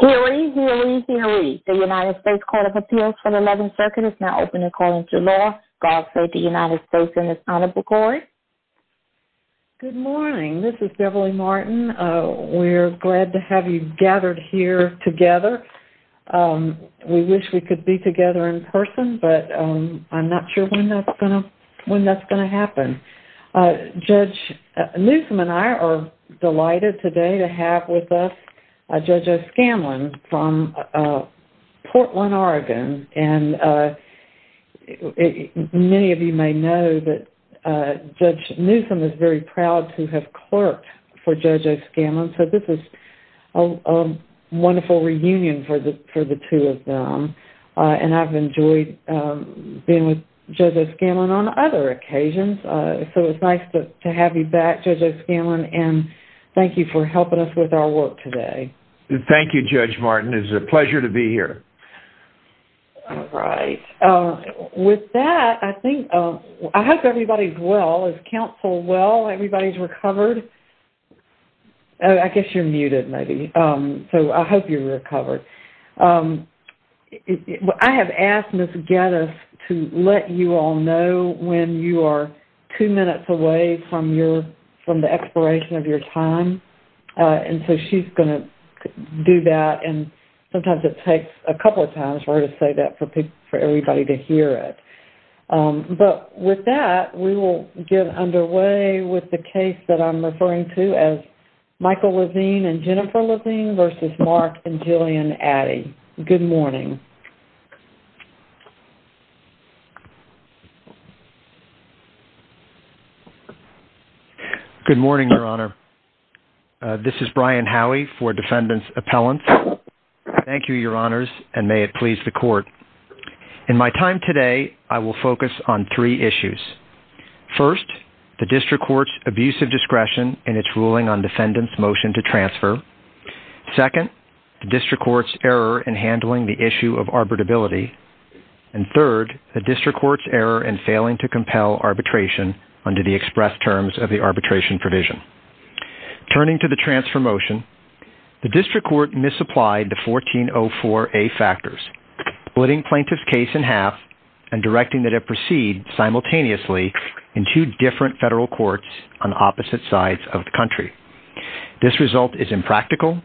Hearing, hearing, hearing. The United States Court of Appeals for the 11th Circuit is now open according to law. God save the United States and its Honorable Court. Good morning. This is Beverly Martin. We're glad to have you gathered here together. We wish we could be together in person, but I'm not sure when that's going to happen. Judge Newsom and I are delighted today to have with us Judge O'Scanlan from Portland, Oregon. Many of you may know that Judge Newsom is very proud to have clerked for Judge O'Scanlan, so this is a wonderful reunion for the two of them. I've enjoyed being with Judge O'Scanlan on other occasions, so it's nice to have you back, Judge O'Scanlan, and thank you for helping us with our work today. Thank you, Judge Martin. It's a pleasure to be here. All right. With that, I hope everybody's well. Is counsel well? Everybody's recovered? I guess you're muted, maybe, so I hope you're recovered. I have asked Ms. Geddes to let you all know when you are two minutes away from the expiration of your time, and so she's going to do that, and sometimes it takes a couple of times for her to say that for everybody to hear it. But with that, we will get underway with the case that I'm referring to as Michael Levine and Jennifer Levine v. Mark and Jillian Addy. Good morning. Good morning, Your Honor. This is Brian Howey for Defendant's Appellant. Thank you, Your Honors, and may it please the Court. In my time today, I will focus on three issues. First, the district court's abusive discretion in its ruling on defendant's motion to transfer. Second, the district court's error in handling the issue of arbitrability. And third, the district court's error in failing to compel arbitration under the express terms of the arbitration provision. Turning to the transfer motion, the district court misapplied the 1404A factors, splitting plaintiff's case in half and directing that it proceed simultaneously in two different federal courts on opposite sides of the country. This result is impractical,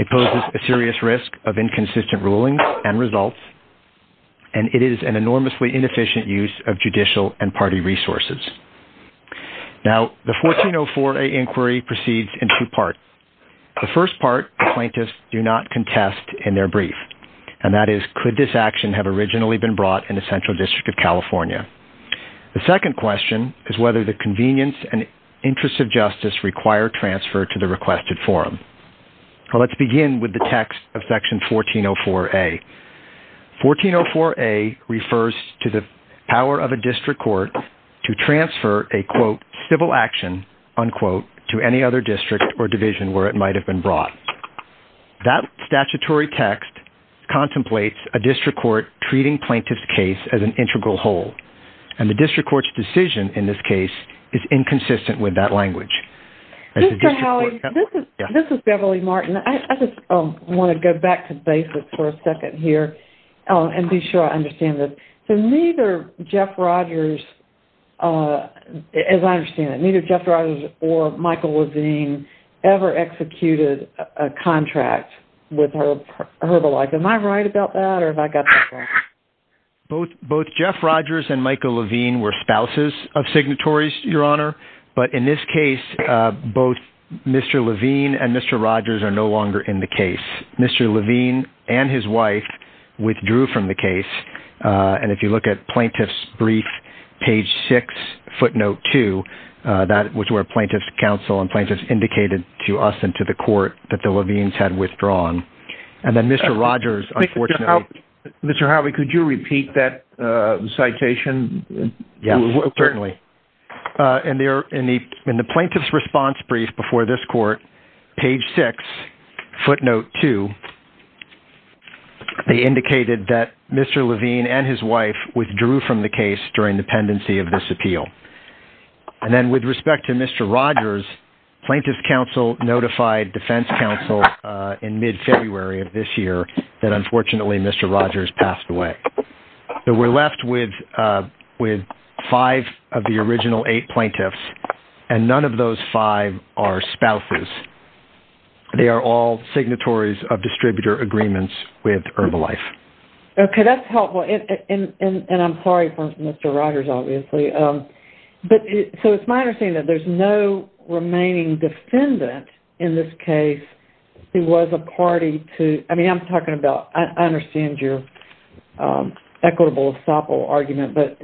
it poses a serious risk of inconsistent rulings and results, and it is an enormously inefficient use of judicial and party resources. Now, the 1404A inquiry proceeds in two parts. The first part, the plaintiffs do not contest in their brief, and that is, could this action have originally been brought in the Central District of California? The second question is whether the convenience and interest of justice require transfer to the requested forum. Let's begin with the text of section 1404A. 1404A refers to the power of a district court to transfer a, quote, civil action, unquote, to any other district or division where it might have been brought. That statutory text contemplates a district court treating plaintiff's case as an integral whole, and the district court's decision in this case is inconsistent with that language. This is Beverly Martin. I just want to go back to basics for a second here and be sure I understand this. So neither Jeff Rogers, as I understand it, neither Jeff Rogers or Michael Levine ever executed a contract with Herbalife. Am I right about that, or have I got that wrong? Both Jeff Rogers and Michael Levine were spouses of signatories, Your Honor, but in this case, both Mr. Levine and Mr. Rogers are no longer in the case. Mr. Levine and his wife withdrew from the case, and if you look at Plaintiff's Brief, page 6, footnote 2, that was where Plaintiff's Counsel and Plaintiffs indicated to us and to the court that the Levines had withdrawn. And then Mr. Rogers, unfortunately... Mr. Howie, could you repeat that citation? Yes, certainly. In the Plaintiff's Response Brief before this court, page 6, footnote 2, they indicated that Mr. Levine and his wife withdrew from the case during the pendency of this appeal. And then with respect to Mr. Rogers, Plaintiff's Counsel notified Defense Counsel in mid-February of this year that, unfortunately, Mr. Rogers passed away. So we're left with five of the original eight plaintiffs, and none of those five are spouses. They are all signatories of distributor agreements with Herbalife. Okay, that's helpful, and I'm sorry for Mr. Rogers, obviously. So it's my understanding that there's no remaining defendant in this case who was a party to... I mean, I'm talking about... I understand your equitable, estoppel argument, but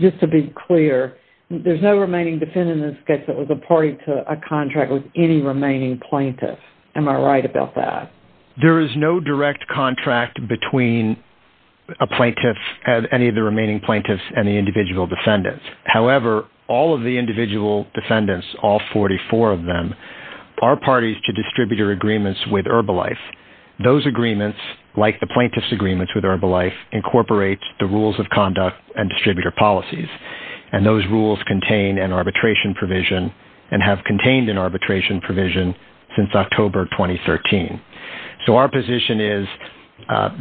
just to be clear, there's no remaining defendant in this case that was a party to a contract with any remaining plaintiff. Am I right about that? There is no direct contract between any of the remaining plaintiffs and the individual defendants. However, all of the individual defendants, all 44 of them, are parties to distributor agreements with Herbalife. Those agreements, like the plaintiff's agreements with Herbalife, incorporate the rules of conduct and distributor policies. And those rules contain an arbitration provision and have contained an arbitration provision since October 2013. So our position is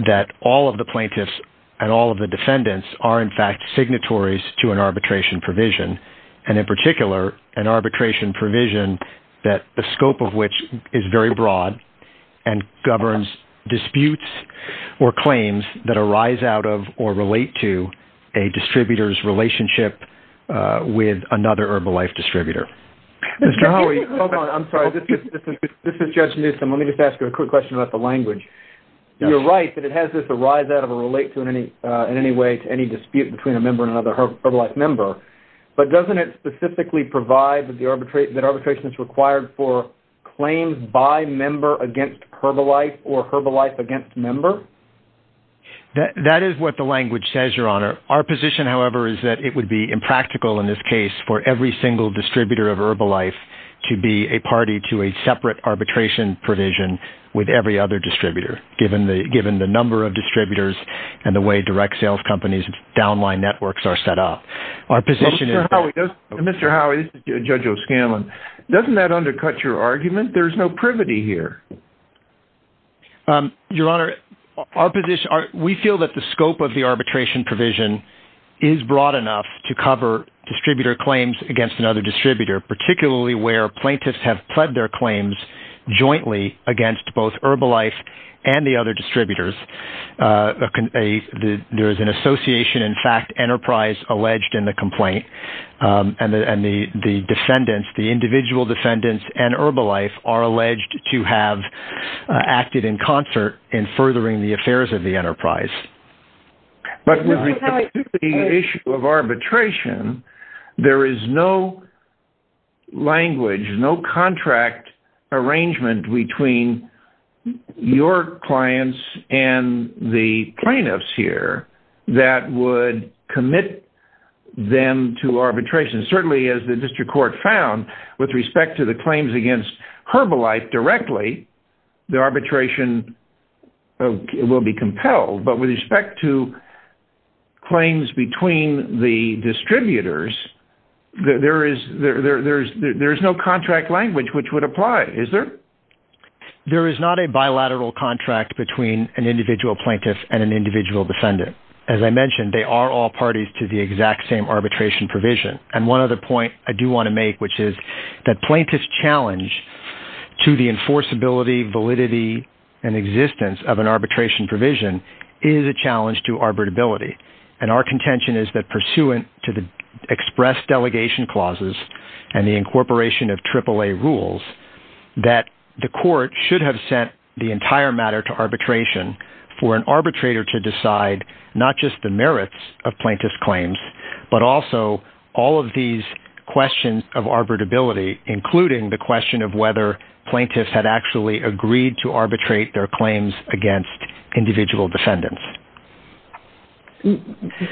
that all of the plaintiffs and all of the defendants are, in fact, signatories to an arbitration provision. And in particular, an arbitration provision that the scope of which is very broad and governs disputes or claims that arise out of or relate to a distributor's relationship with another Herbalife distributor. Mr. Howey, hold on. I'm sorry. This is Judge Newsom. Let me just ask you a quick question about the language. You're right that it has this arise out of or relate to in any way to any dispute between a member and another Herbalife member. But doesn't it specifically provide that arbitration is required for claims by member against Herbalife or Herbalife against member? That is what the language says, Your Honor. Our position, however, is that it would be impractical in this case for every single distributor of Herbalife to be a party to a separate arbitration provision with every other distributor, given the number of distributors and the way direct sales companies' downline networks are set up. Mr. Howey, this is Judge O'Scanlan. Doesn't that undercut your argument? There's no privity here. Your Honor, we feel that the scope of the arbitration provision is broad enough to cover distributor claims against another distributor, particularly where plaintiffs have pled their claims jointly against both Herbalife and the other distributors. There is an association, in fact, enterprise alleged in the complaint, and the defendants, the individual defendants and Herbalife are alleged to have acted in concert in furthering the affairs of the enterprise. But with respect to the issue of arbitration, there is no language, no contract arrangement between your clients and the plaintiffs here that would commit them to arbitration. But with respect to claims between the distributors, there is no contract language which would apply, is there? There is not a bilateral contract between an individual plaintiff and an individual defendant. As I mentioned, they are all parties to the exact same arbitration provision. And one other point I do want to make, which is that plaintiff's challenge to the enforceability, validity, and existence of an arbitration provision is a challenge to arbitrability. And our contention is that pursuant to the express delegation clauses and the incorporation of AAA rules, that the court should have sent the entire matter to arbitration for an arbitrator to decide not just the merits of plaintiff's claims, but also all of these questions of arbitrability, including the question of whether plaintiffs had actually agreed to arbitrate their claims against individual defendants.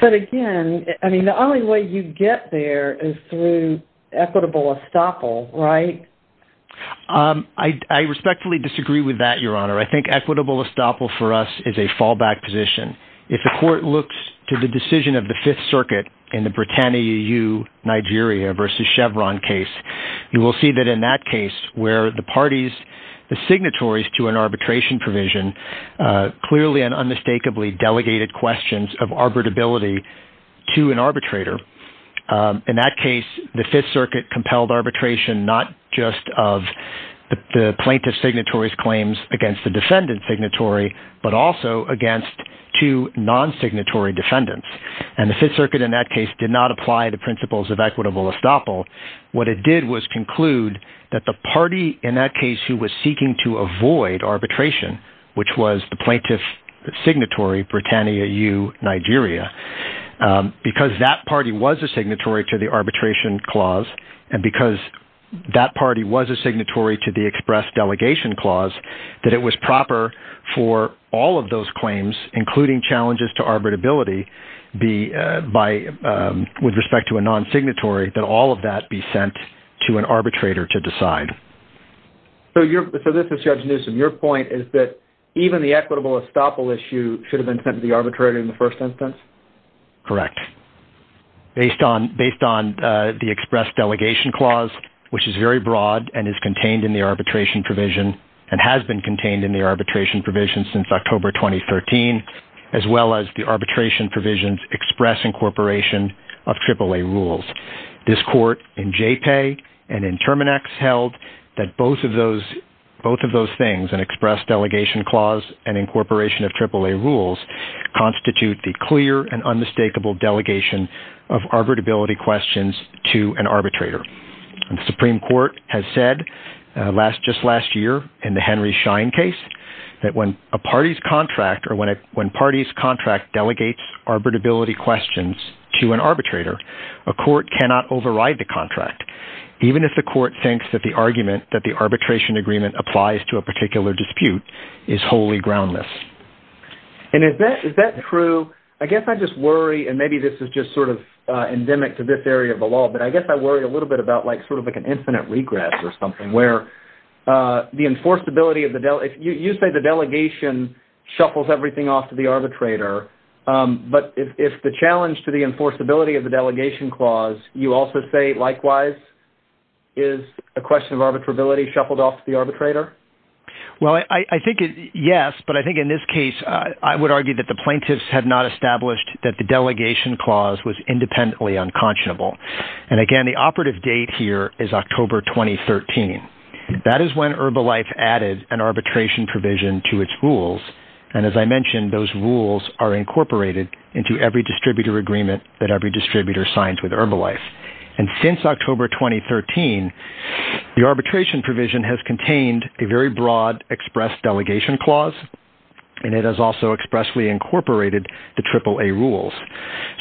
But again, the only way you get there is through equitable estoppel, right? I respectfully disagree with that, Your Honor. I think equitable estoppel for us is a fallback position. If the court looks to the decision of the Fifth Circuit in the Britannia-EU-Nigeria versus Chevron case, you will see that in that case where the parties, the signatories to an arbitration provision clearly and unmistakably delegated questions of arbitrability to an arbitrator. In that case, the Fifth Circuit compelled arbitration not just of the plaintiff's signatory's claims against the defendant's signatory, but also against two non-signatory defendants. And the Fifth Circuit in that case did not apply the principles of equitable estoppel. What it did was conclude that the party in that case who was seeking to avoid arbitration, which was the plaintiff's signatory, Britannia-EU-Nigeria, because that party was a signatory to the arbitration clause, and because that party was a signatory to the express delegation clause, that it was proper for all of those claims, including challenges to arbitrability, with respect to a non-signatory, that all of that should be avoided. All of that should not be sent to an arbitrator to decide. So this is Judge Newsom. Your point is that even the equitable estoppel issue should have been sent to the arbitrator in the first instance? Correct. Based on the express delegation clause, which is very broad and is contained in the arbitration provision, and has been contained in the arbitration provision since October 2013, as well as the arbitration provision's express incorporation of AAA rules. This court in JPAY and in Terminax held that both of those things, an express delegation clause and incorporation of AAA rules, constitute the clear and unmistakable delegation of arbitrability questions to an arbitrator. The Supreme Court has said just last year in the Henry Schein case that when a party's contract delegates arbitrability questions to an arbitrator, a court cannot override the contract, even if the court thinks that the argument that the arbitration agreement applies to a particular dispute is wholly groundless. And is that true? I guess I just worry, and maybe this is just sort of endemic to this area of the law, but I guess I worry a little bit about sort of like an infinite regress or something, where you say the delegation shuffles everything off to the arbitrator, but if the challenge to the enforceability of the delegation clause, you also say likewise, is a question of arbitrability shuffled off to the arbitrator? Well, I think yes, but I think in this case, I would argue that the plaintiffs have not established that the delegation clause was independently unconscionable. And again, the operative date here is October 2013. That is when Herbalife added an arbitration provision to its rules, and as I mentioned, those rules are incorporated into every distributor agreement that every distributor signs with Herbalife. And since October 2013, the arbitration provision has contained a very broad express delegation clause, and it has also expressly incorporated the AAA rules.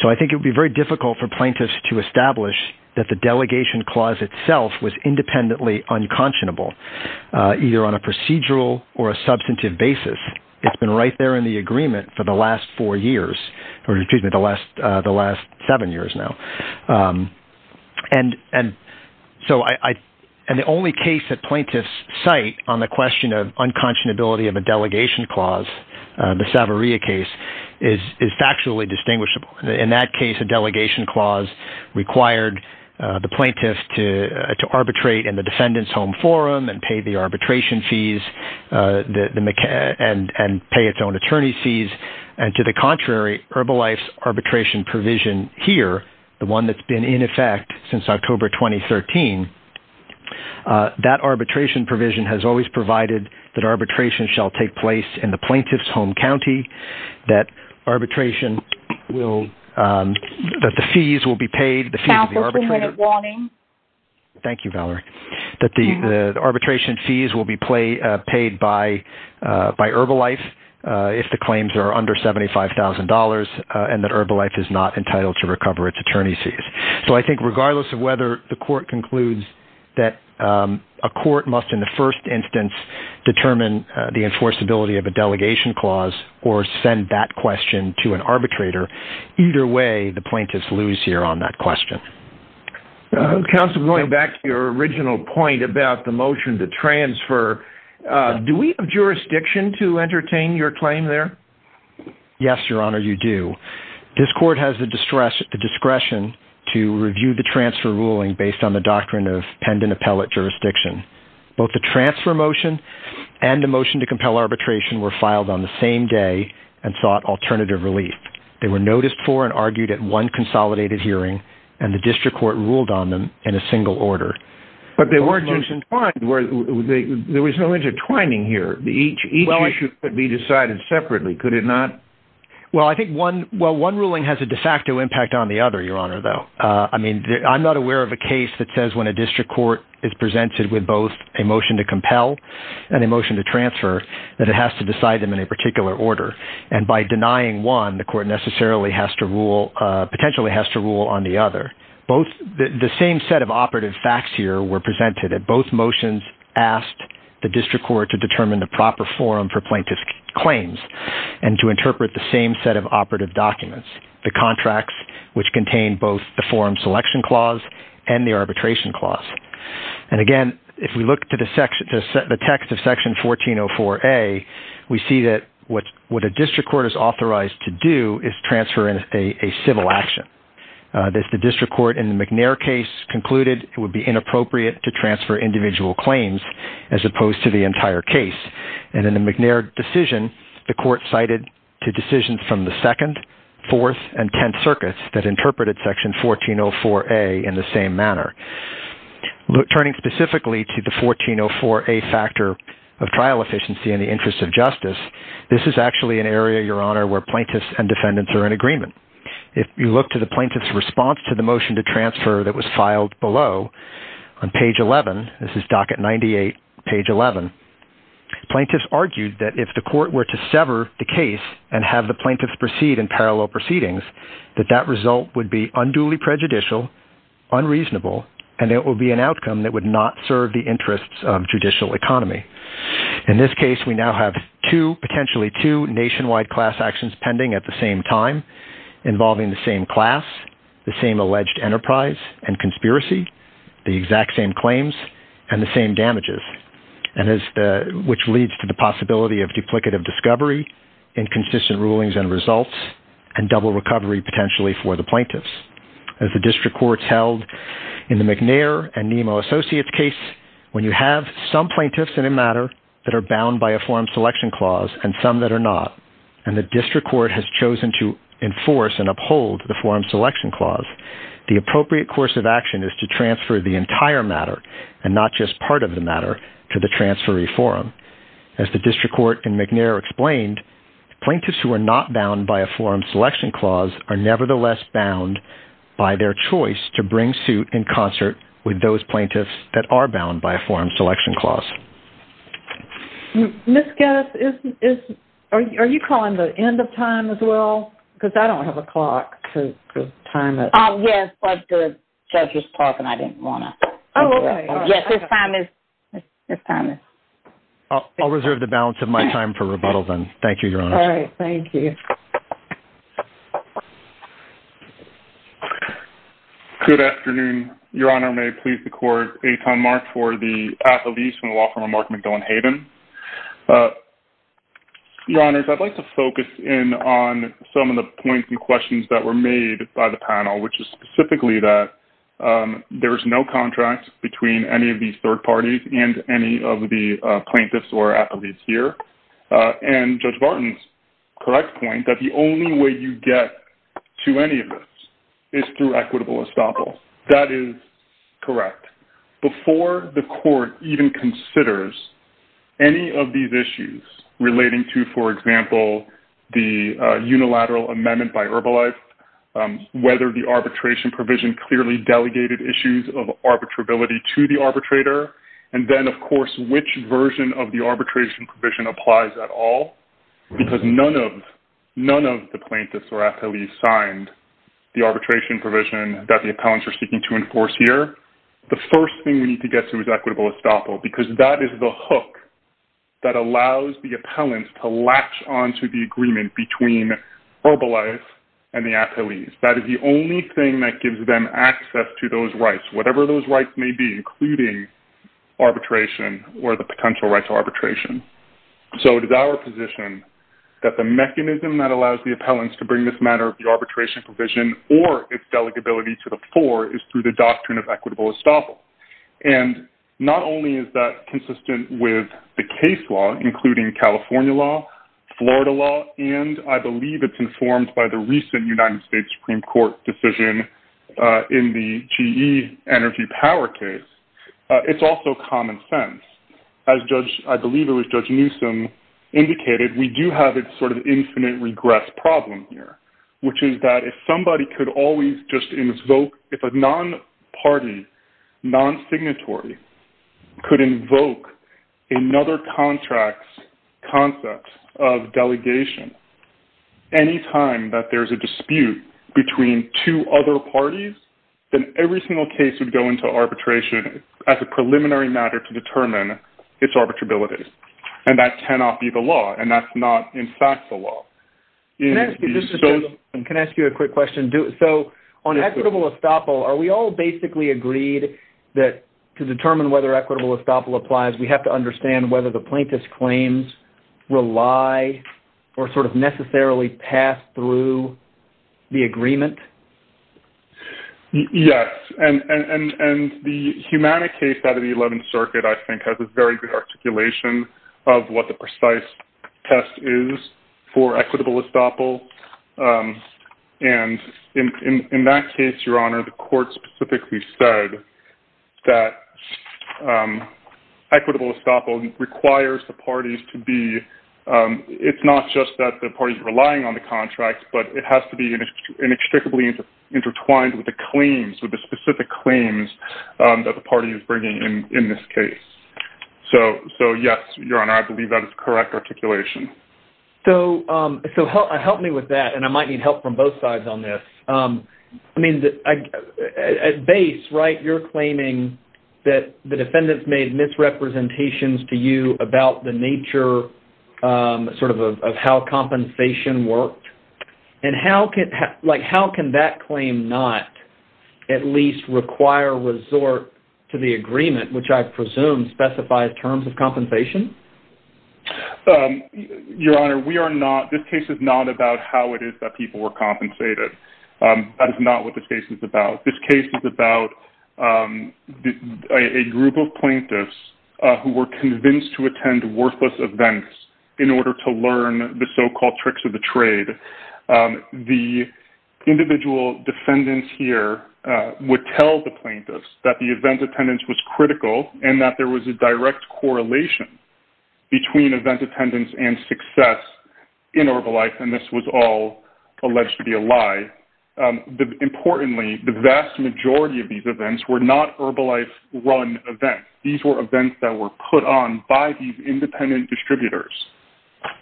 So I think it would be very difficult for plaintiffs to establish that the delegation clause itself was independently unconscionable, either on a procedural or a substantive basis. It's been right there in the agreement for the last four years, or excuse me, the last seven years now. And the only case that plaintiffs cite on the question of unconscionability of a delegation clause, the Savaria case, is factually distinguishable. In that case, a delegation clause required the plaintiffs to arbitrate in the defendant's home forum and pay the arbitration fees and pay its own attorney's fees. And to the contrary, Herbalife's arbitration provision here, the one that's been in effect since October 2013, that arbitration provision has always provided that arbitration shall take place in the plaintiff's home county. That the arbitration fees will be paid by Herbalife if the claims are under $75,000 and that Herbalife is not entitled to recover its attorney's fees. So I think regardless of whether the court concludes that a court must in the first instance determine the enforceability of a delegation clause or send that question to an arbitrator, either way the plaintiffs lose here on that question. Counsel, going back to your original point about the motion to transfer, do we have jurisdiction to entertain your claim there? Yes, Your Honor, you do. This court has the discretion to review the transfer ruling based on the doctrine of pendent appellate jurisdiction. Both the transfer motion and the motion to compel arbitration were filed on the same day and sought alternative relief. They were noticed for and argued at one consolidated hearing and the district court ruled on them in a single order. But they weren't just entwined. There was no intertwining here. Each issue could be decided separately, could it not? Well, I think one ruling has a de facto impact on the other, Your Honor, though. I'm not aware of a case that says when a district court is presented with both a motion to compel and a motion to transfer that it has to decide them in a particular order. And by denying one, the court necessarily has to rule, potentially has to rule on the other. The same set of operative facts here were presented. Both motions asked the district court to determine the proper forum for plaintiff's claims and to interpret the same set of operative documents, the contracts which contain both the forum selection clause and the arbitration clause. And again, if we look to the text of Section 1404A, we see that what a district court is authorized to do is transfer a civil action. As the district court in the McNair case concluded, it would be inappropriate to transfer individual claims as opposed to the entire case. And in the McNair decision, the court cited two decisions from the Second, Fourth, and Tenth Circuits that interpreted Section 1404A in the same manner. Turning specifically to the 1404A factor of trial efficiency in the interest of justice, this is actually an area, Your Honor, where plaintiffs and defendants are in agreement. If you look to the plaintiff's response to the motion to transfer that was filed below on page 11, this is docket 98, page 11, plaintiffs argued that if the court were to sever the case and have the plaintiffs proceed in parallel proceedings, that that result would be unduly prejudicial, unreasonable, and it would be an outcome that would not serve the interests of judicial economy. In this case, we now have two, potentially two, nationwide class actions pending at the same time involving the same class, the same alleged enterprise and conspiracy, the exact same claims, and the same damages, which leads to the possibility of duplicative discovery, inconsistent rulings and results, and double recovery potentially for the plaintiffs. As the district courts held in the McNair and Nemo Associates case, when you have some plaintiffs in a matter that are bound by a forum selection clause and some that are not, and the district court has chosen to enforce and uphold the forum selection clause, the appropriate course of action is to transfer the entire matter and not just part of the matter to the transferee forum. As the district court in McNair explained, plaintiffs who are not bound by a forum selection clause are nevertheless bound by their choice to bring suit in concert with those plaintiffs that are bound by a forum selection clause. Ms. Geddes, are you calling the end of time as well? Because I don't have a clock to time it. Yes, but the judge was talking and I didn't want to interrupt. I'll reserve the balance of my time for rebuttal then. Thank you, Your Honor. All right. Thank you. Good afternoon. Your Honor, may it please the court, a time mark for the path of these from the law firm of Mark McDowen Hayden. Your Honor, I'd like to focus in on some of the points and questions that were made by the panel, which is specifically that there is no contract between any of these third parties and any of the plaintiffs or appellees here. And Judge Barton's correct point that the only way you get to any of this is through equitable estoppel. That is correct. Before the court even considers any of these issues relating to, for example, the unilateral amendment by Herbalife, whether the arbitration provision clearly delegated issues of arbitrability to the arbitrator, and then, of course, which version of the arbitration provision applies at all, because none of the plaintiffs or appellees signed the arbitration provision that the appellants are seeking to enforce here, the first thing we need to get to is equitable estoppel, because that is the hook that allows the appellants to latch onto the agreement between Herbalife and the appellees. That is the only thing that gives them access to those rights, whatever those rights may be, including arbitration or the potential rights of arbitration. So it is our position that the mechanism that allows the appellants to bring this matter of the arbitration provision or its delegability to the floor is through the doctrine of equitable estoppel. And not only is that consistent with the case law, including California law, Florida law, and I believe it's informed by the recent United States Supreme Court decision in the GE Energy Power case, it's also common sense. As Judge, I believe it was Judge Newsom, indicated, we do have this sort of infinite regress problem here, which is that if somebody could always just invoke, if a non-party, non-signatory, could invoke another contract's concept of delegation, any time that there's a dispute between two other parties, then every single case would go into arbitration as a preliminary matter to determine its arbitrability. And that cannot be the law, and that's not in fact the law. Can I ask you a quick question? So on equitable estoppel, are we all basically agreed that to determine whether equitable estoppel applies, we have to understand whether the plaintiff's claims rely or sort of necessarily pass through the agreement? Yes, and the humanic case out of the 11th Circuit I think has a very good articulation of what the precise test is for equitable estoppel. And in that case, Your Honor, the court specifically said that equitable estoppel requires the parties to be, it's not just that the parties are relying on the contracts, but it has to be inextricably intertwined with the claims, with the specific claims that the party is bringing in this case. So yes, Your Honor, I believe that is correct articulation. So help me with that, and I might need help from both sides on this. I mean, at base, right, you're claiming that the defendants made misrepresentations to you about the nature sort of of how compensation worked. And how can that claim not at least require resort to the agreement, which I presume specifies terms of compensation? Your Honor, we are not, this case is not about how it is that people were compensated. That is not what this case is about. This case is about a group of plaintiffs who were convinced to attend worthless events in order to learn the so-called tricks of the trade. The individual defendants here would tell the plaintiffs that the event attendance was critical and that there was a direct correlation between event attendance and success in Herbalife, and this was all alleged to be a lie. Importantly, the vast majority of these events were not Herbalife-run events. These were events that were put on by these independent distributors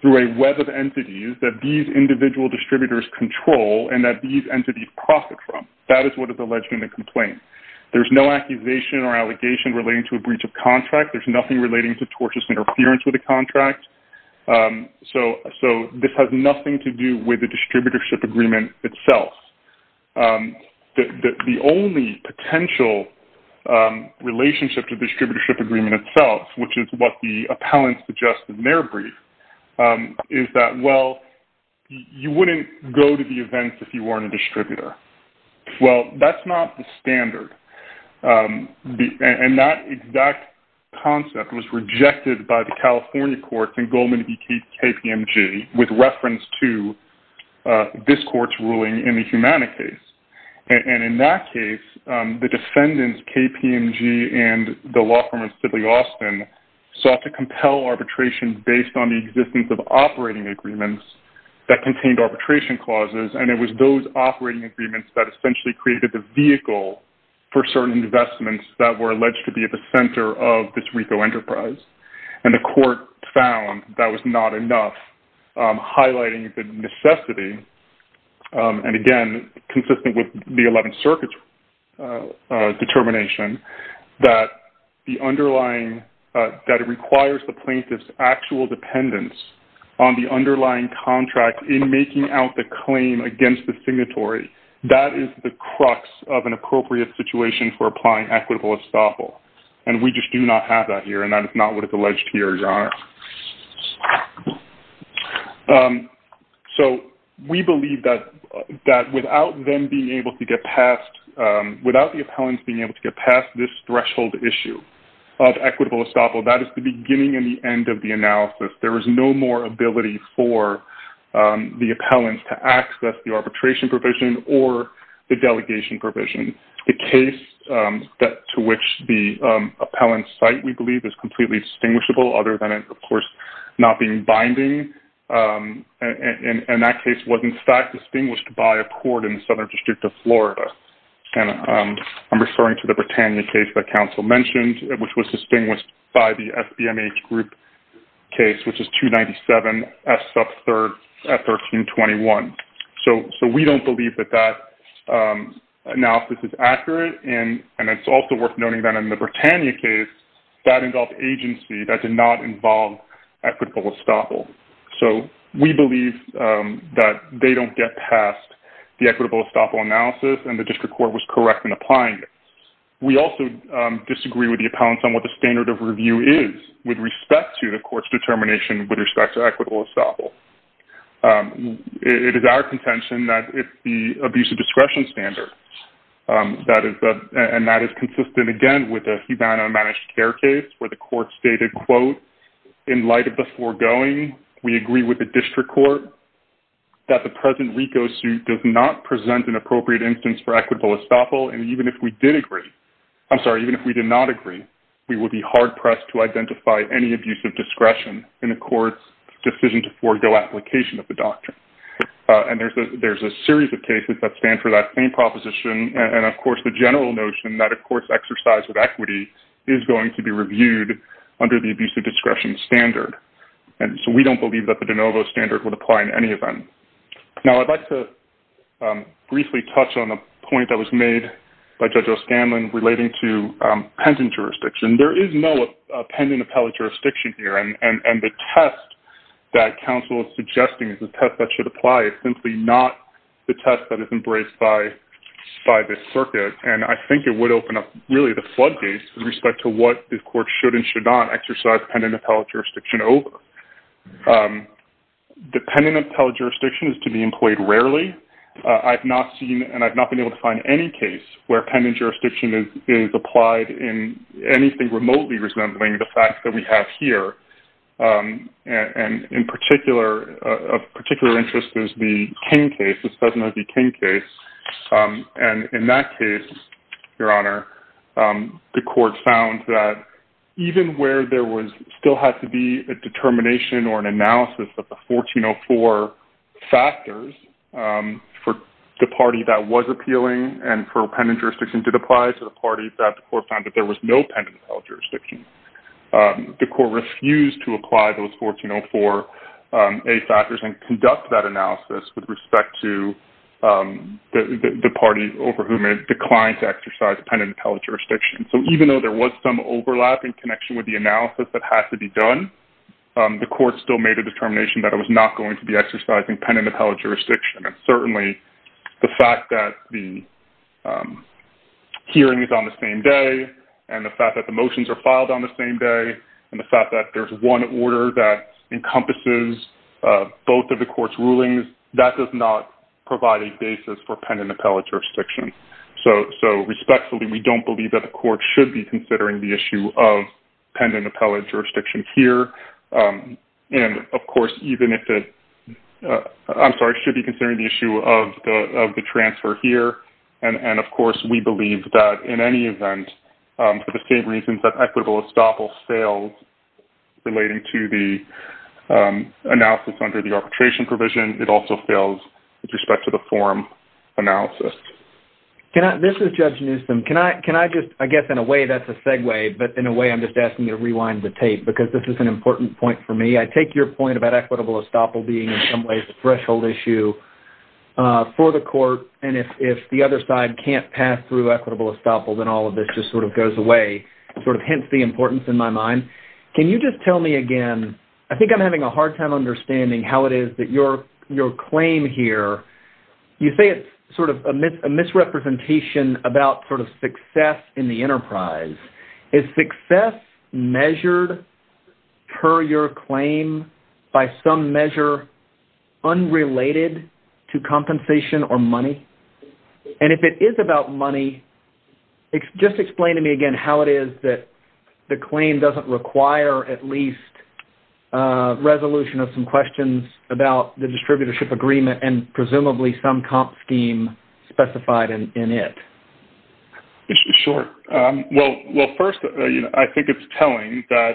through a web of entities that these individual distributors control and that these entities profit from. That is what is alleged in the complaint. There is no accusation or allegation relating to a breach of contract. There is nothing relating to tortious interference with the contract. So this has nothing to do with the distributorship agreement itself. The only potential relationship to the distributorship agreement itself, which is what the appellants suggested in their brief, is that, well, you wouldn't go to the events if you weren't a distributor. Well, that's not the standard. And that exact concept was rejected by the California courts in Goldman v. KPMG with reference to this court's ruling in the Humana case. And in that case, the defendants, KPMG and the law firm of Sidley Austin, sought to compel arbitration based on the existence of operating agreements that contained arbitration clauses, and it was those operating agreements that essentially created the vehicle for certain investments that were alleged to be at the center of this RICO enterprise. And the court found that was not enough, highlighting the necessity and, again, consistent with the 11th Circuit's determination that it requires the plaintiff's actual dependence on the underlying contract in making out the claim against the signatory. That is the crux of an appropriate situation for applying equitable estoppel, and we just do not have that here, and that is not what is alleged here, Your Honor. So we believe that without the appellants being able to get past this threshold issue of equitable estoppel, that is the beginning and the end of the analysis. There is no more ability for the appellants to access the arbitration provision or the delegation provision. The case to which the appellants cite, we believe, is completely distinguishable, other than it, of course, not being binding. And that case was, in fact, distinguished by a court in the Southern District of Florida. I'm referring to the Britannia case that counsel mentioned, which was distinguished by the SBMH group case, which is 297S sub 1321. So we don't believe that that analysis is accurate, and it's also worth noting that in the Britannia case, that involved agency that did not involve equitable estoppel. So we believe that they don't get past the equitable estoppel analysis, and the district court was correct in applying it. We also disagree with the appellants on what the standard of review is with respect to the court's determination with respect to equitable estoppel. It is our contention that it's the abuse of discretion standard, and that is consistent, again, with the Havana managed care case where the court stated, quote, in light of the foregoing, we agree with the district court that the present RICO suit does not present an appropriate instance for equitable estoppel, and even if we did agree, I'm sorry, even if we did not agree, we would be hard-pressed to identify any abuse of discretion in the court's decision to forego application of the doctrine. And there's a series of cases that stand for that same proposition, and, of course, the general notion that a court's exercise of equity is going to be reviewed under the abuse of discretion standard. And so we don't believe that the de novo standard would apply in any event. Now, I'd like to briefly touch on a point that was made by Judge O'Scanlan relating to pending jurisdiction. There is no pending appellate jurisdiction here, and the test that counsel is suggesting is the test that should apply. It's simply not the test that is embraced by this circuit, and I think it would open up really the floodgates with respect to what the court should and should not exercise pending appellate jurisdiction over. The pending appellate jurisdiction is to be employed rarely. I've not seen and I've not been able to find any case where pending jurisdiction is applied in anything remotely resembling the fact that we have here, and of particular interest is the King case, the Sedno v. King case. And in that case, Your Honor, the court found that even where there was still had to be a determination or an analysis of the 1404 factors for the party that was appealing and for pending jurisdiction did apply to the party that the court found that there was no pending appellate jurisdiction. The court refused to apply those 1404A factors and conduct that analysis with respect to the party over whom it declined to exercise pending appellate jurisdiction. So even though there was some overlap in connection with the analysis that had to be done, the court still made a determination that it was not going to be exercising pending appellate jurisdiction. And certainly the fact that the hearing is on the same day and the fact that the motions are filed on the same day and the fact that there's one order that encompasses both of the court's rulings, that does not provide a basis for pending appellate jurisdiction. So respectfully, we don't believe that the court should be considering the issue of pending appellate jurisdiction here. And, of course, even if it... I'm sorry, should be considering the issue of the transfer here. And, of course, we believe that in any event, for the same reasons that equitable estoppel fails relating to the analysis under the arbitration provision, it also fails with respect to the forum analysis. This is Judge Newsom. Can I just... I guess in a way that's a segue, but in a way I'm just asking you to rewind the tape because this is an important point for me. I take your point about equitable estoppel being in some ways a threshold issue for the court, and if the other side can't pass through equitable estoppel, then all of this just sort of goes away, hence the importance in my mind. Can you just tell me again... I think I'm having a hard time understanding how it is that your claim here... You say it's sort of a misrepresentation about sort of success in the enterprise. Is success measured per your claim by some measure unrelated to compensation or money? And if it is about money, just explain to me again how it is that the claim doesn't require at least resolution of some questions about the distributorship agreement and presumably some comp scheme specified in it. Sure. Well, first, I think it's telling that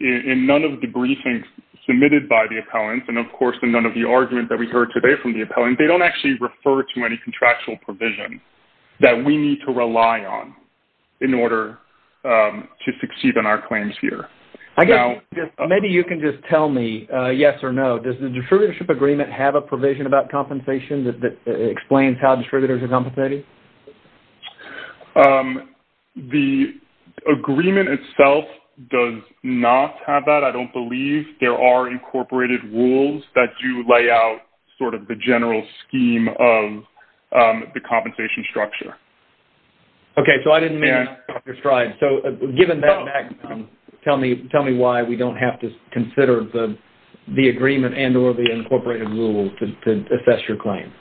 in none of the briefings submitted by the appellants, and of course in none of the arguments that we heard today from the appellants, they don't actually refer to any contractual provision that we need to rely on in order to succeed in our claims here. I guess maybe you can just tell me yes or no. Does the distributorship agreement have a provision about compensation that explains how distributors are compensated? The agreement itself does not have that. I don't believe there are incorporated rules that do lay out sort of the general scheme of the compensation structure. Okay, so I didn't mean to understride. So given that background, tell me why we don't have to consider the agreement and or the incorporated rule to assess your claim.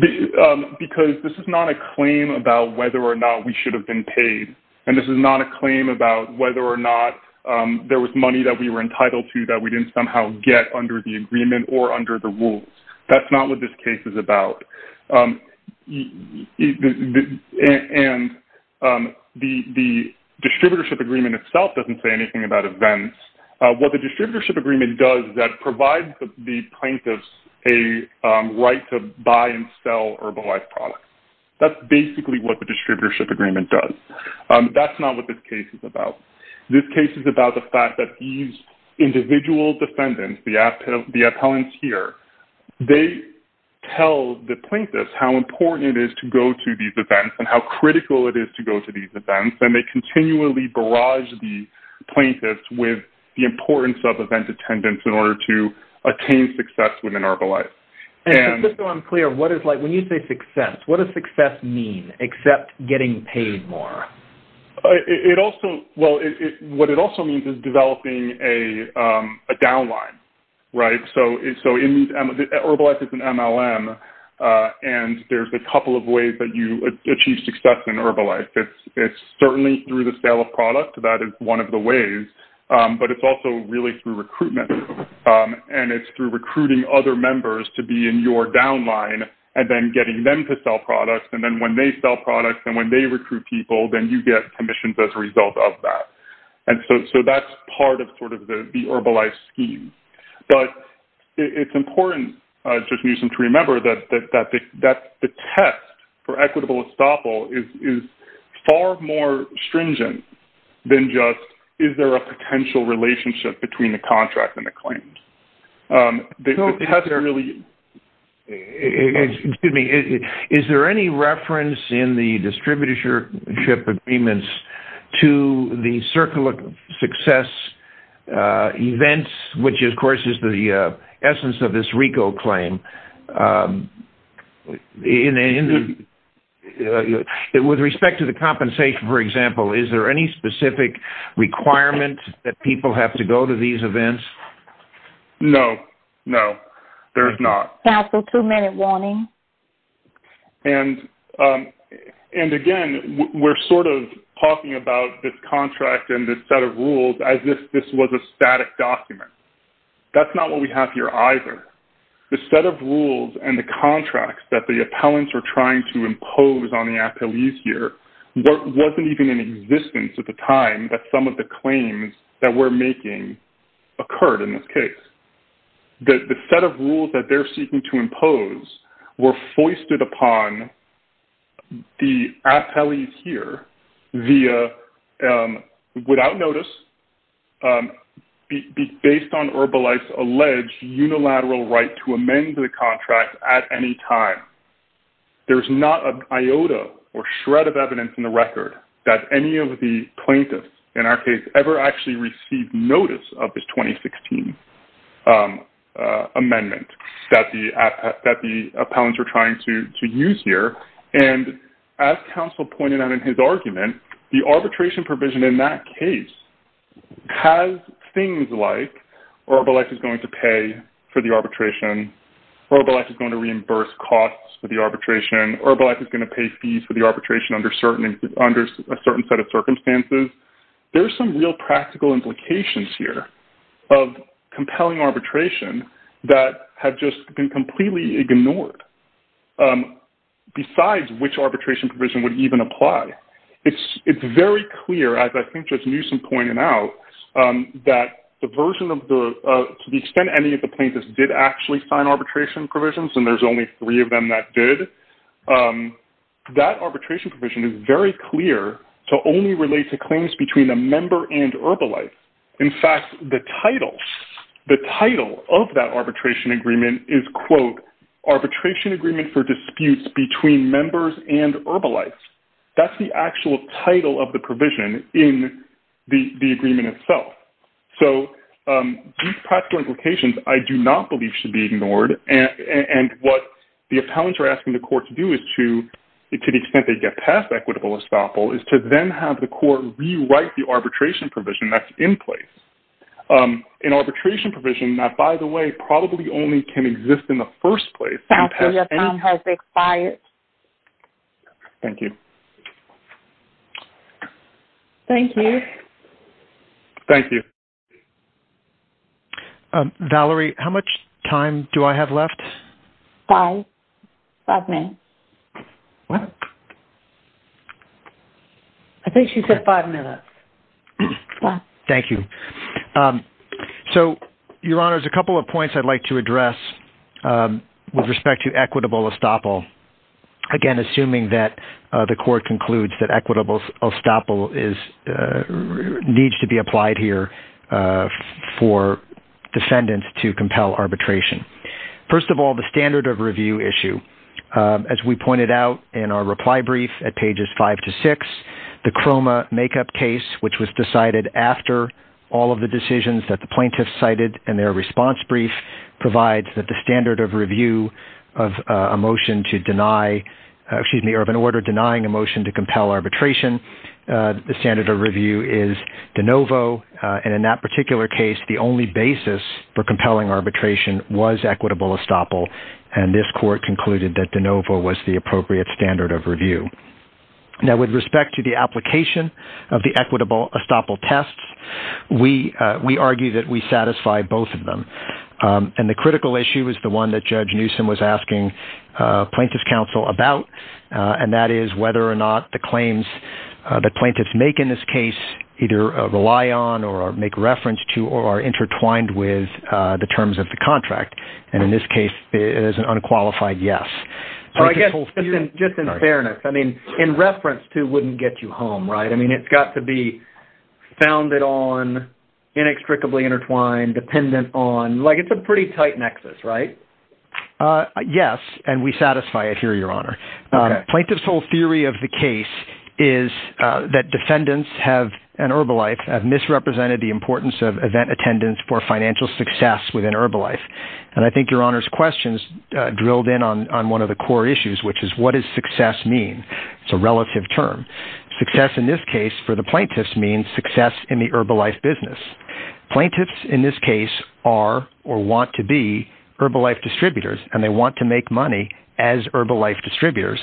Because this is not a claim about whether or not we should have been paid, and this is not a claim about whether or not there was money that we were entitled to that we didn't somehow get under the agreement or under the rules. That's not what this case is about. And the distributorship agreement itself doesn't say anything about events. What the distributorship agreement does is that it provides the plaintiffs a right to buy and sell Herbalife products. That's basically what the distributorship agreement does. That's not what this case is about. This case is about the fact that these individual defendants, the appellants here, they tell the plaintiffs how important it is to go to these events and how critical it is to go to these events, and they continually barrage the plaintiffs with the importance of event attendance in order to attain success within Herbalife. Just so I'm clear, when you say success, what does success mean except getting paid more? What it also means is developing a downline. So Herbalife is an MLM, and there's a couple of ways that you achieve success in Herbalife. It's certainly through the sale of product. That is one of the ways. But it's also really through recruitment, and it's through recruiting other members to be in your downline and then getting them to sell products. And then when they sell products and when they recruit people, then you get commissions as a result of that. And so that's part of sort of the Herbalife scheme. But it's important, Judge Newsom, to remember that the test for equitable estoppel is far more stringent than just, is there a potential relationship between the contract and the claims? Excuse me. Is there any reference in the distributorship agreements to the circle of success events, which, of course, is the essence of this RICO claim? With respect to the compensation, for example, is there any specific requirement that people have to go to these events? No, no, there's not. Counsel, two-minute warning. And, again, we're sort of talking about this contract and this set of rules as if this was a static document. That's not what we have here either. The set of rules and the contracts that the appellants are trying to impose on the appellees here wasn't even in existence at the time that some of the claims that we're making occurred in this case. The set of rules that they're seeking to impose were foisted upon the appellees here via, without notice, based on Herbalife's alleged unilateral right to amend the contract at any time. There's not an iota or shred of evidence in the record that any of the plaintiffs, in our case, ever actually received notice of this 2016 amendment that the appellants are trying to use here. And as counsel pointed out in his argument, the arbitration provision in that case has things like Herbalife is going to pay for the arbitration, Herbalife is going to reimburse costs for the arbitration, Herbalife is going to pay fees for the arbitration under a certain set of circumstances. There's some real practical implications here of compelling arbitration that have just been completely ignored besides which arbitration provision would even apply. It's very clear, as I think Judge Newsom pointed out, that the version of the, to the extent any of the plaintiffs did actually sign arbitration provisions, and there's only three of them that did, that arbitration provision is very clear to only relate to claims between a member and Herbalife. In fact, the title, the title of that arbitration agreement is, quote, arbitration agreement for disputes between members and Herbalife. That's the actual title of the provision in the agreement itself. So these practical implications, I do not believe, should be ignored, and what the appellants are asking the court to do to the extent they get past equitable estoppel is to then have the court rewrite the arbitration provision that's in place. An arbitration provision that, by the way, probably only can exist in the first place. Thank you. Thank you. Thank you. Valerie, how much time do I have left? Five, five minutes. What? I think she said five minutes. Thank you. So, Your Honors, a couple of points I'd like to address with respect to equitable estoppel. Again, assuming that the court concludes that equitable estoppel is, needs to be applied here for defendants to compel arbitration. First of all, the standard of review issue. As we pointed out in our reply brief at pages five to six, the Croma makeup case, which was decided after all of the decisions that the plaintiffs cited in their response brief, provides that the standard of review of a motion to deny, excuse me, of an order denying a motion to compel arbitration, the standard of review is de novo, and in that particular case, the only basis for compelling arbitration was equitable estoppel, and this court concluded that de novo was the appropriate standard of review. Now, with respect to the application of the equitable estoppel test, we argue that we satisfy both of them, and the critical issue is the one that Judge Newsom was asking plaintiff's counsel about, and that is whether or not the claims that plaintiffs make in this case either rely on or make reference to or are intertwined with the terms of the contract, and in this case, it is an unqualified yes. I guess, just in fairness, I mean, in reference to wouldn't get you home, right? I mean, it's got to be founded on, inextricably intertwined, dependent on. Like, it's a pretty tight nexus, right? Yes, and we satisfy it here, Your Honor. Okay. Plaintiff's whole theory of the case is that defendants have, in Herbalife, have misrepresented the importance of event attendance for financial success within Herbalife, and I think Your Honor's question's drilled in on one of the core issues, which is what does success mean? It's a relative term. Success in this case for the plaintiffs means success in the Herbalife business. Plaintiffs in this case are or want to be Herbalife distributors, and they want to make money as Herbalife distributors.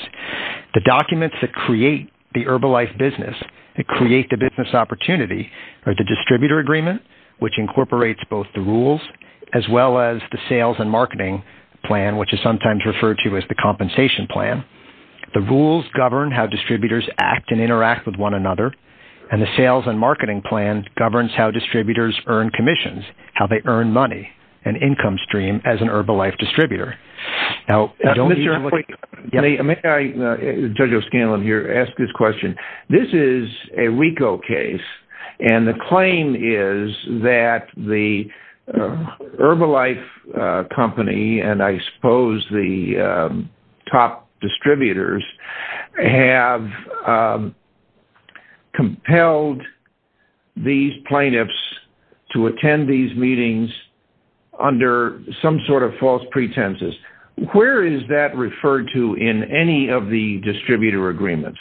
The documents that create the Herbalife business, that create the business opportunity, are the distributor agreement, which incorporates both the rules as well as the sales and marketing plan, which is sometimes referred to as the compensation plan. The rules govern how distributors act and interact with one another, and the sales and marketing plan governs how distributors earn commissions, how they earn money and income stream as an Herbalife distributor. Judge O'Scanlan here asked this question. This is a RICO case, and the claim is that the Herbalife company and I suppose the top distributors to attend these meetings under some sort of false pretenses. Where is that referred to in any of the distributor agreements?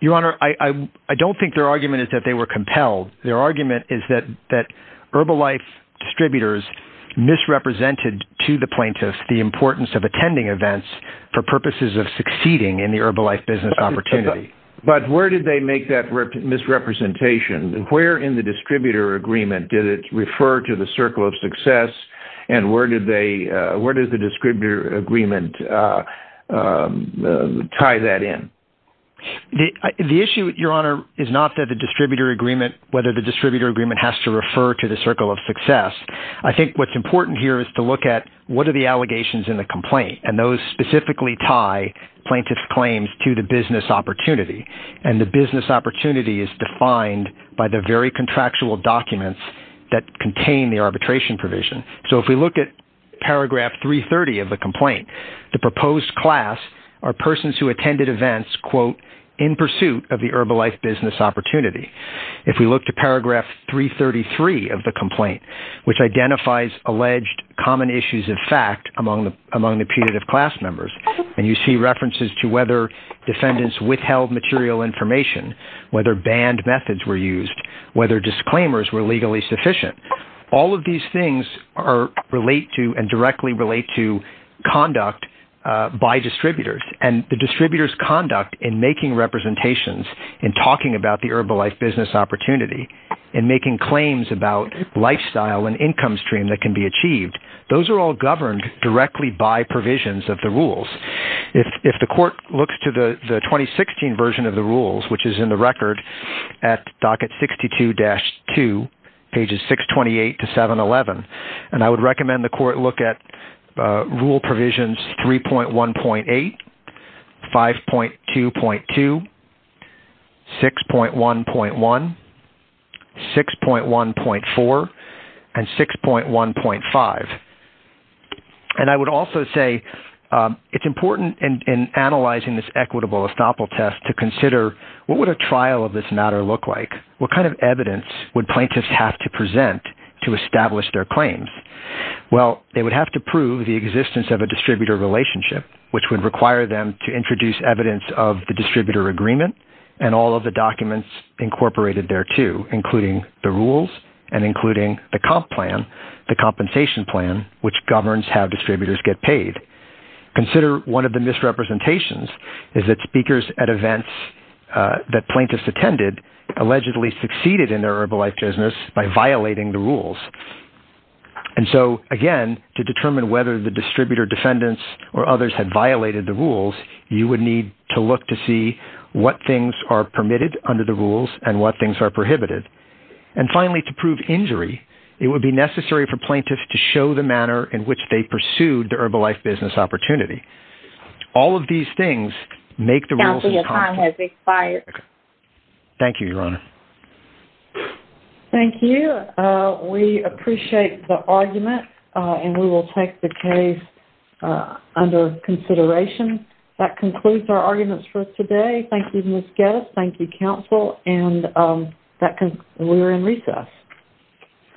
Your Honor, I don't think their argument is that they were compelled. Their argument is that Herbalife distributors misrepresented to the plaintiffs the importance of attending events for purposes of succeeding in the Herbalife business opportunity. But where did they make that misrepresentation? Where in the distributor agreement did it refer to the circle of success, and where does the distributor agreement tie that in? The issue, Your Honor, is not that the distributor agreement, whether the distributor agreement has to refer to the circle of success. I think what's important here is to look at what are the allegations in the complaint, and those specifically tie plaintiff claims to the business opportunity. And the business opportunity is defined by the very contractual documents that contain the arbitration provision. So if we look at paragraph 330 of the complaint, the proposed class are persons who attended events quote, in pursuit of the Herbalife business opportunity. If we look to paragraph 333 of the complaint, which identifies alleged common issues of fact among the punitive class members, and you see references to whether defendants withheld material information, whether banned methods were used, whether disclaimers were legally sufficient, all of these things relate to and directly relate to conduct by distributors. And the distributor's conduct in making representations and talking about the Herbalife business opportunity and making claims about lifestyle and income stream that can be achieved, those are all governed directly by provisions of the rules. If the court looks to the 2016 version of the rules, which is in the record at docket 62-2, pages 628 to 711, and I would recommend the court look at rule provisions 3.1.8, 5.2.2, 6.1.1, 6.1.4, and 6.1.5. And I would also say it's important in analyzing this equitable estoppel test to consider what would a trial of this matter look like? What kind of evidence would plaintiffs have to present to establish their claims? Well, they would have to prove the existence of a distributor relationship, which would require them to introduce evidence of the distributor agreement and all of the documents incorporated thereto, including the rules and including the comp plan, the compensation plan, which governs how distributors get paid. Consider one of the misrepresentations is that speakers at events that plaintiffs attended allegedly succeeded in their Herbalife business by violating the rules. And so, again, to determine whether the distributor defendants or others had violated the rules, you would need to look to see what things are permitted under the rules and what things are prohibited. And finally, to prove injury, it would be necessary for plaintiffs to show the manner in which they pursued the Herbalife business opportunity. All of these things make the rules... Counsel, your time has expired. Thank you, Your Honor. Thank you. We appreciate the argument and we will take the case under consideration. That concludes our arguments for today. Thank you, Ms. Gettis. Thank you, counsel. And we're in recess.